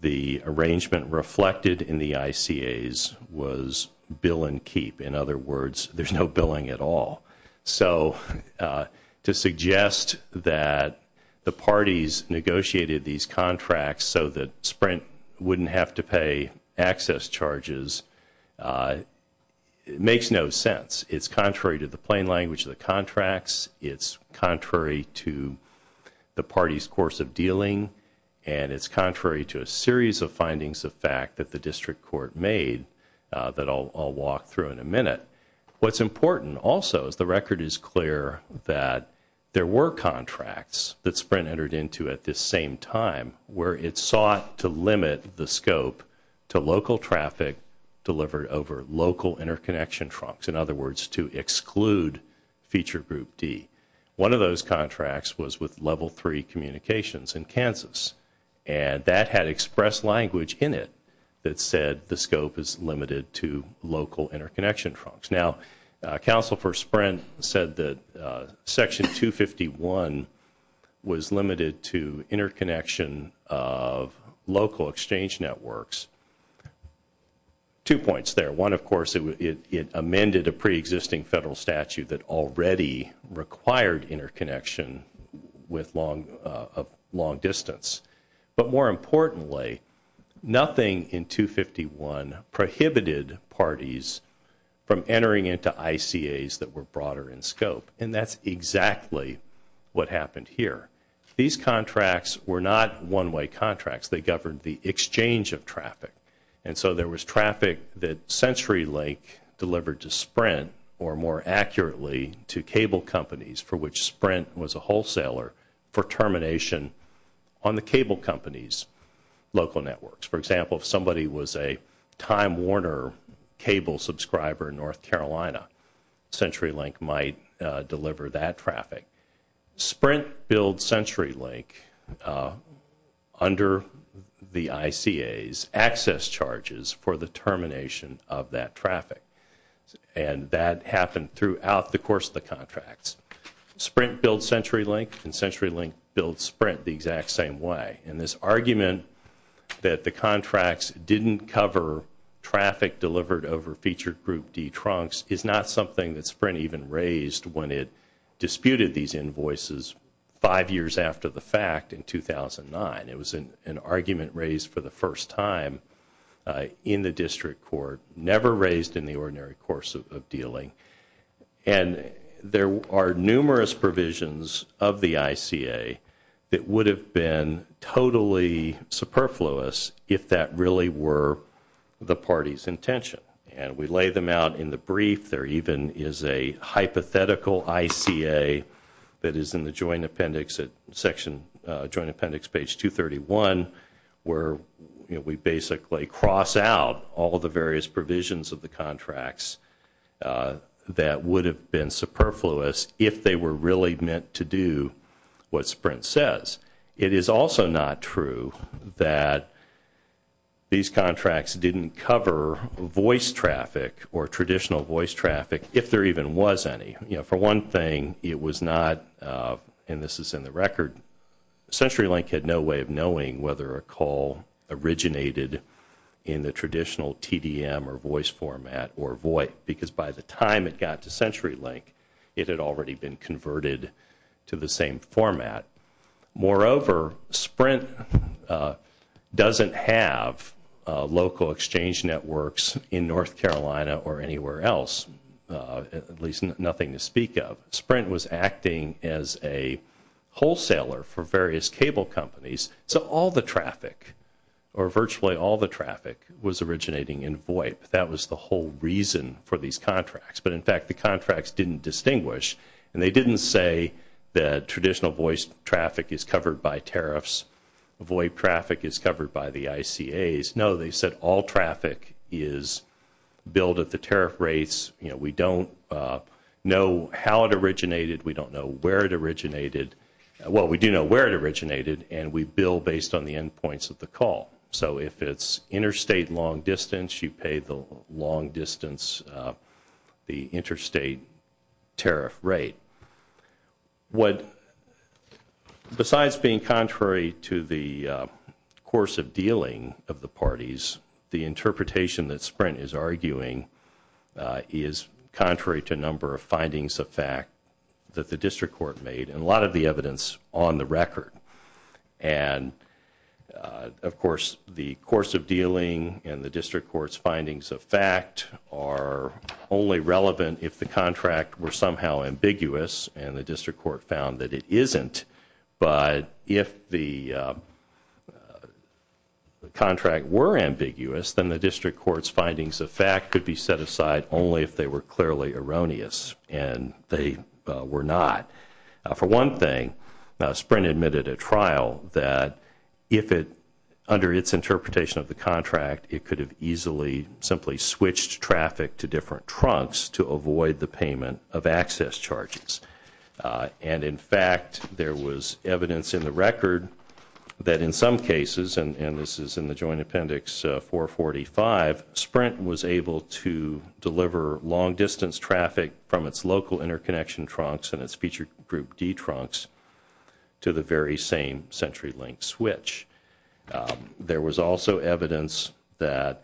the arrangement reflected in the ICAs was bill and keep. In other words, there's no billing at all. So to suggest that the parties negotiated these contracts so that Sprint wouldn't have to pay access charges makes no sense. It's contrary to the plain language of the contracts. It's contrary to the party's course of dealing. And it's contrary to a series of findings of fact that the district court made that I'll walk through in a minute. What's important also is the record is clear that there were contracts that Sprint entered into at this same time, where it sought to limit the scope to local traffic delivered over local interconnection trunks. In other words, to exclude feature group D. One of those contracts was with Level 3 Communications in Kansas. And that had express language in it that said the scope is limited to local interconnection trunks. Now, counsel for Sprint said that Section 251 was limited to interconnection of local exchange networks. Two points there. One, of course, it amended a preexisting federal statute that already required interconnection of long distance. But more importantly, nothing in 251 prohibited parties from entering into ICAs that were broader in scope. And that's exactly what happened here. These contracts were not one-way contracts. They governed the exchange of traffic. And so there was traffic that CenturyLink delivered to Sprint, or more accurately, to cable companies, for which Sprint was a wholesaler, for termination on the cable company's local networks. For example, if somebody was a Time Warner cable subscriber in North Carolina, CenturyLink might deliver that traffic. Sprint billed CenturyLink, under the ICAs, access charges for the termination of that traffic. And that happened throughout the course of the contracts. Sprint billed CenturyLink, and CenturyLink billed Sprint the exact same way. And this argument that the contracts didn't cover traffic delivered over feature group D trunks is not something that Sprint even raised when it disputed these invoices five years after the fact in 2009. It was an argument raised for the first time in the district court, never raised in the ordinary course of dealing. And there are numerous provisions of the ICA that would have been totally superfluous if that really were the party's intention. And we lay them out in the brief. There even is a hypothetical ICA that is in the joint appendix at section, joint appendix page 231, where we basically cross out all of the various provisions of the contracts that would have been superfluous if they were really meant to do what Sprint says. It is also not true that these contracts didn't cover voice traffic or traditional voice traffic, if there even was any. You know, for one thing, it was not, and this is in the record, CenturyLink had no way of knowing whether a call originated in the traditional TDM or voice format, because by the time it got to CenturyLink, it had already been converted to the same format. Moreover, Sprint doesn't have local exchange networks in North Carolina or anywhere else, at least nothing to speak of. Sprint was acting as a wholesaler for various cable companies. So all the traffic, or virtually all the traffic, was originating in VOIP. That was the whole reason for these contracts. But, in fact, the contracts didn't distinguish, and they didn't say that traditional voice traffic is covered by tariffs, VOIP traffic is covered by the ICAs. No, they said all traffic is billed at the tariff rates. You know, we don't know how it originated. We don't know where it originated. Well, we do know where it originated, and we bill based on the endpoints of the call. So if it's interstate long distance, you pay the long distance, the interstate tariff rate. What, besides being contrary to the course of dealing of the parties, the interpretation that Sprint is arguing is contrary to a number of findings of fact that the district court made. And a lot of the evidence is on the record. And, of course, the course of dealing and the district court's findings of fact are only relevant if the contract were somehow ambiguous and the district court found that it isn't. But if the contract were ambiguous, then the district court's findings of fact could be set aside only if they were clearly erroneous. And they were not. For one thing, Sprint admitted at trial that if it, under its interpretation of the contract, it could have easily simply switched traffic to different trunks to avoid the payment of access charges. And, in fact, there was evidence in the record that in some cases, and this is in the Joint Appendix 445, Sprint was able to deliver long distance traffic from its local interconnection trunks and its feature group D trunks to the very same CenturyLink switch. There was also evidence that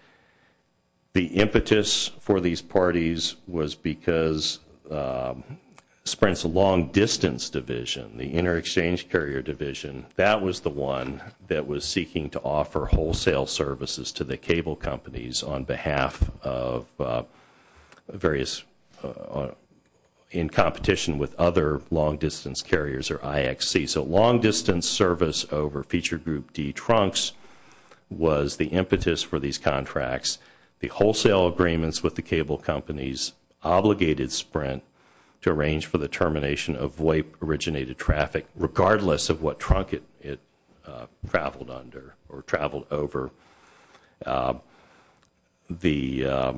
the impetus for these parties was because Sprint's long distance division, the inter-exchange carrier division, that was the one that was seeking to offer wholesale services to the cable companies on behalf of various, in competition with other long distance carriers or IXC. So long distance service over feature group D trunks was the impetus for these contracts. The wholesale agreements with the cable companies obligated Sprint to arrange for the termination of VOIP originated traffic, regardless of what trunk it traveled under or traveled over. The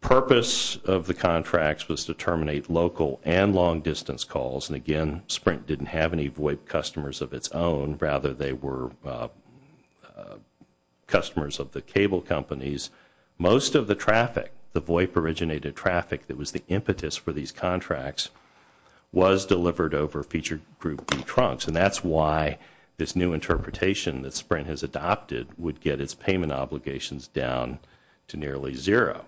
purpose of the contracts was to terminate local and long distance calls. And, again, Sprint didn't have any VOIP customers of its own. Rather, they were customers of the cable companies. Most of the traffic, the VOIP originated traffic that was the impetus for these contracts, was delivered over feature group D trunks. And that's why this new interpretation that Sprint has adopted would get its payment obligations down to nearly zero.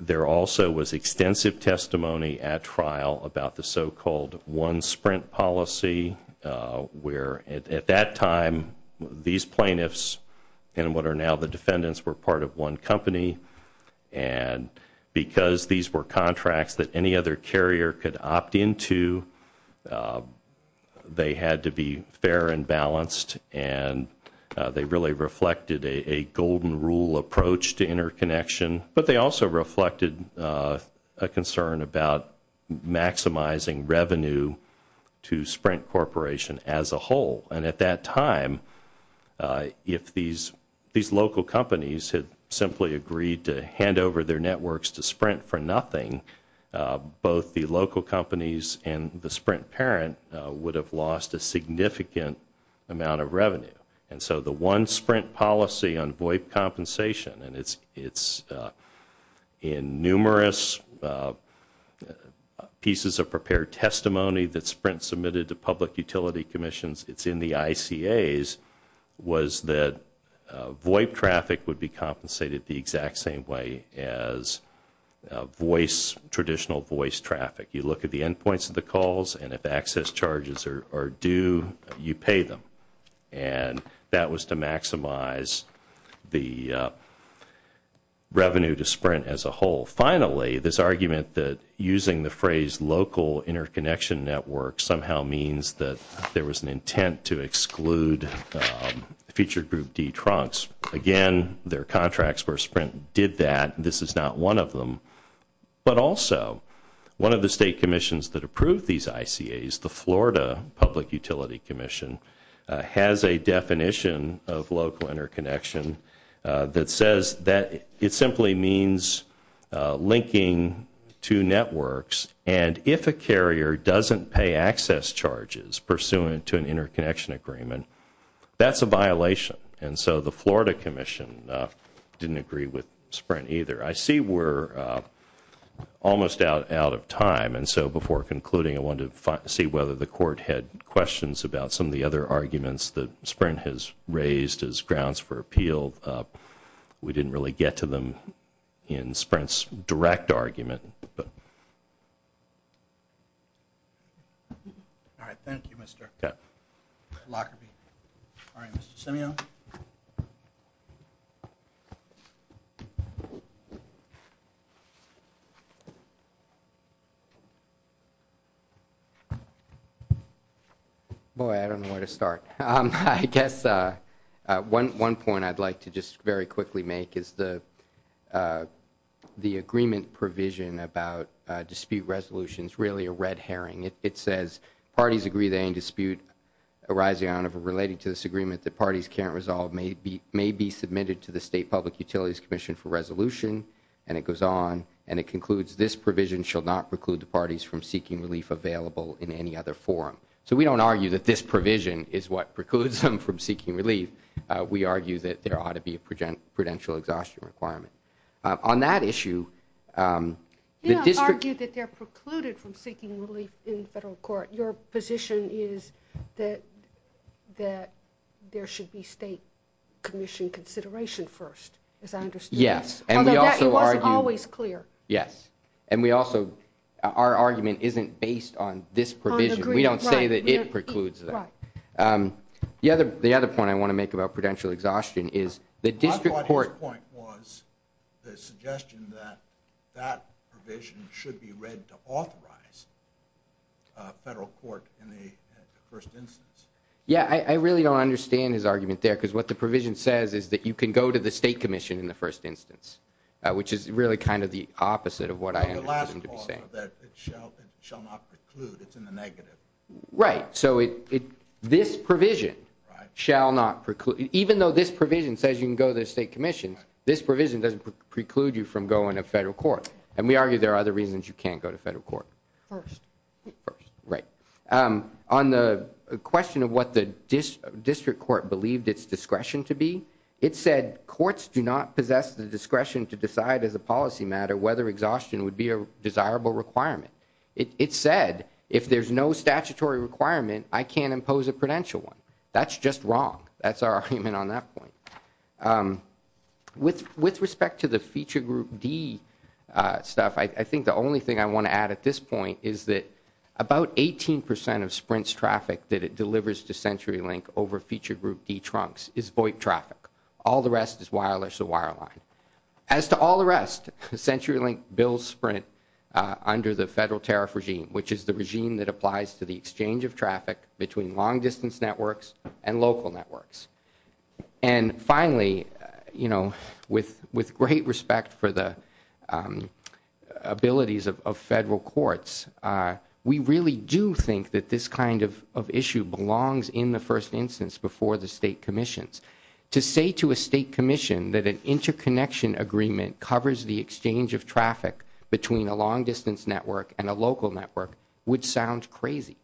There also was extensive testimony at trial about the so-called one Sprint policy, where at that time these plaintiffs and what are now the defendants were part of one company. And because these were contracts that any other carrier could opt into, they had to be fair and balanced. And they really reflected a golden rule approach to interconnection. But they also reflected a concern about maximizing revenue to Sprint Corporation as a whole. And at that time, if these local companies had simply agreed to hand over their networks to Sprint for nothing, both the local companies and the Sprint parent would have lost a significant amount of revenue. And so the one Sprint policy on VOIP compensation, and it's in numerous pieces of prepared testimony that Sprint submitted to public utility commissions, it's in the ICAs, was that VOIP traffic would be compensated the exact same way as voice, traditional voice traffic. You look at the endpoints of the calls and if access charges are due, you pay them. And that was to maximize the revenue to Sprint as a whole. Finally, this argument that using the phrase local interconnection network somehow means that there was an intent to exclude feature group D trunks. Again, their contracts were Sprint did that. This is not one of them. But also, one of the state commissions that approved these ICAs, the Florida Public Utility Commission, has a definition of local interconnection that says that it simply means linking two networks. And if a carrier doesn't pay access charges pursuant to an interconnection agreement, that's a violation. And so the Florida Commission didn't agree with Sprint either. I see we're almost out of time. And so before concluding, I wanted to see whether the court had questions about some of the other arguments that Sprint has raised as grounds for appeal. We didn't really get to them in Sprint's direct argument. All right, thank you, Mr. Lockerbie. All right, Mr. Simeon. Boy, I don't know where to start. I guess one point I'd like to just very quickly make is the agreement provision about dispute resolution is really a red herring. It says parties agree that any dispute arising out of or related to this agreement that parties can't resolve may be submitted to the State Public Utilities Commission for resolution, and it goes on, and it concludes this provision shall not preclude the parties from seeking relief available in any other forum. So we don't argue that this provision is what precludes them from seeking relief. We argue that there ought to be a prudential exhaustion requirement. You don't argue that they're precluded from seeking relief in federal court. Your position is that there should be state commission consideration first, as I understand it. Yes, and we also argue that our argument isn't based on this provision. We don't say that it precludes them. The other point I want to make about prudential exhaustion is the district court- My point was the suggestion that that provision should be read to authorize federal court in the first instance. Yeah, I really don't understand his argument there, because what the provision says is that you can go to the state commission in the first instance, which is really kind of the opposite of what I understand him to be saying. The last clause, that it shall not preclude, it's in the negative. Right, so this provision shall not preclude- Even though this provision says you can go to the state commission, this provision doesn't preclude you from going to federal court. And we argue there are other reasons you can't go to federal court. First. First, right. On the question of what the district court believed its discretion to be, it said courts do not possess the discretion to decide as a policy matter whether exhaustion would be a desirable requirement. It said if there's no statutory requirement, I can't impose a prudential one. That's just wrong. That's our argument on that point. With respect to the feature group D stuff, I think the only thing I want to add at this point is that about 18 percent of Sprint's traffic that it delivers to CenturyLink over feature group D trunks is VoIP traffic. All the rest is wireless or wireline. As to all the rest, CenturyLink bills Sprint under the federal tariff regime, which is the regime that applies to the exchange of traffic between long distance networks and local networks. And finally, you know, with great respect for the abilities of federal courts, we really do think that this kind of issue belongs in the first instance before the state commissions. To say to a state commission that an interconnection agreement covers the exchange of traffic between a long distance network and a local network would sound crazy.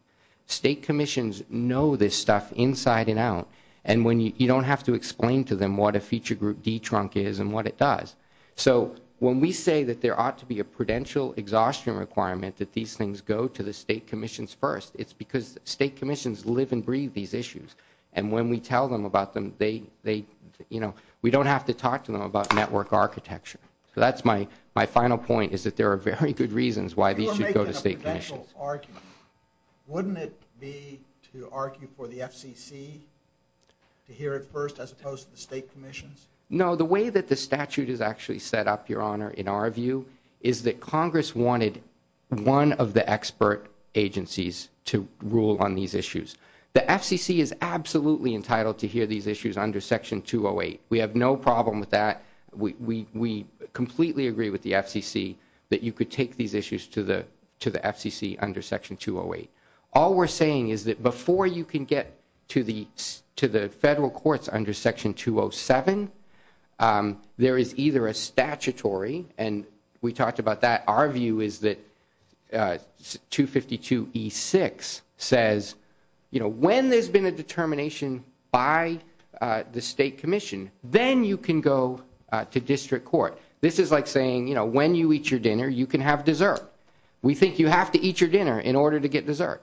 State commissions know this stuff inside and out, and you don't have to explain to them what a feature group D trunk is and what it does. So when we say that there ought to be a prudential exhaustion requirement that these things go to the state commissions first, it's because state commissions live and breathe these issues. And when we tell them about them, they, you know, we don't have to talk to them about network architecture. So that's my final point is that there are very good reasons why these should go to state commissions. You're making a prudential argument. Wouldn't it be to argue for the FCC to hear it first as opposed to the state commissions? No, the way that the statute is actually set up, Your Honor, in our view, is that Congress wanted one of the expert agencies to rule on these issues. The FCC is absolutely entitled to hear these issues under Section 208. We have no problem with that. We completely agree with the FCC that you could take these issues to the FCC under Section 208. All we're saying is that before you can get to the federal courts under Section 207, there is either a statutory, and we talked about that, our view is that 252E6 says, you know, when there's been a determination by the state commission, then you can go to district court. This is like saying, you know, when you eat your dinner, you can have dessert. We think you have to eat your dinner in order to get dessert.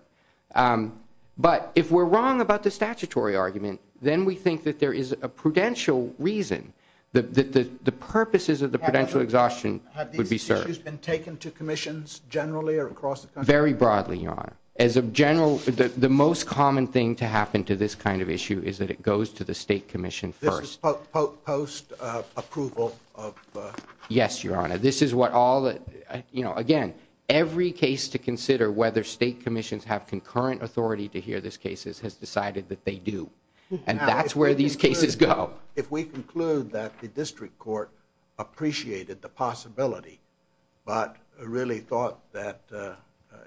But if we're wrong about the statutory argument, then we think that there is a prudential reason, that the purposes of the prudential exhaustion would be served. Have these issues been taken to commissions generally or across the country? Very broadly, Your Honor. As a general, the most common thing to happen to this kind of issue is that it goes to the state commission first. This is post-approval? Yes, Your Honor. This is what all the, you know, again, every case to consider whether state commissions have concurrent authority to hear these cases has decided that they do. And that's where these cases go. But if we conclude that the district court appreciated the possibility but really thought that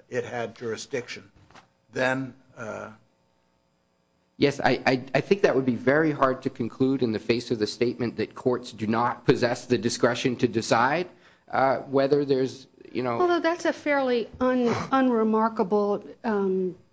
it had jurisdiction, then? Yes, I think that would be very hard to conclude in the face of the statement that courts do not possess the discretion to decide whether there's, you know. Although that's a fairly unremarkable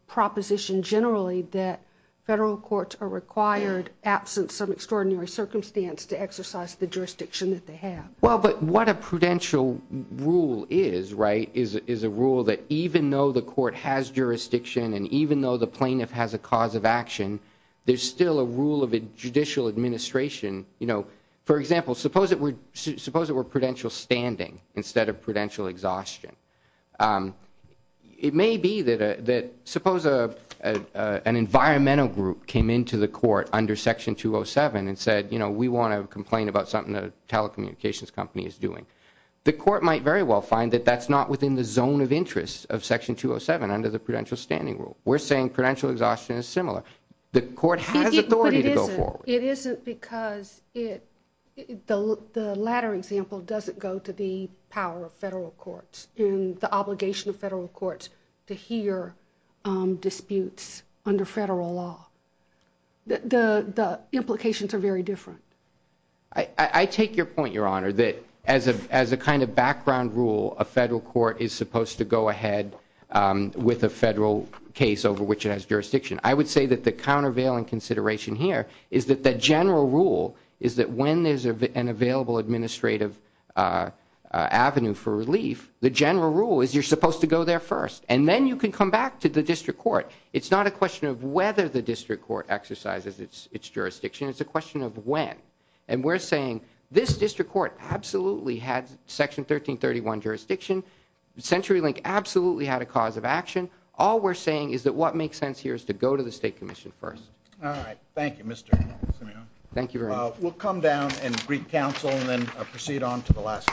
proposition generally, that federal courts are required, absent some extraordinary circumstance, to exercise the jurisdiction that they have. Well, but what a prudential rule is, right, is a rule that even though the court has jurisdiction and even though the plaintiff has a cause of action, there's still a rule of judicial administration. For example, suppose it were prudential standing instead of prudential exhaustion. It may be that suppose an environmental group came into the court under Section 207 and said, you know, we want to complain about something that a telecommunications company is doing. The court might very well find that that's not within the zone of interest of Section 207 under the prudential standing rule. We're saying prudential exhaustion is similar. The court has authority to go forward. It isn't because the latter example doesn't go to the power of federal courts and the obligation of federal courts to hear disputes under federal law. The implications are very different. I take your point, Your Honor, that as a kind of background rule, a federal court is supposed to go ahead with a federal case over which it has jurisdiction. I would say that the countervailing consideration here is that the general rule is that when there's an available administrative avenue for relief, the general rule is you're supposed to go there first. And then you can come back to the district court. It's not a question of whether the district court exercises its jurisdiction. It's a question of when. And we're saying this district court absolutely had Section 1331 jurisdiction. CenturyLink absolutely had a cause of action. All we're saying is that what makes sense here is to go to the State Commission first. All right. Thank you, Mr. Simeon. Thank you very much. We'll come down and greet counsel and then proceed on to the last case.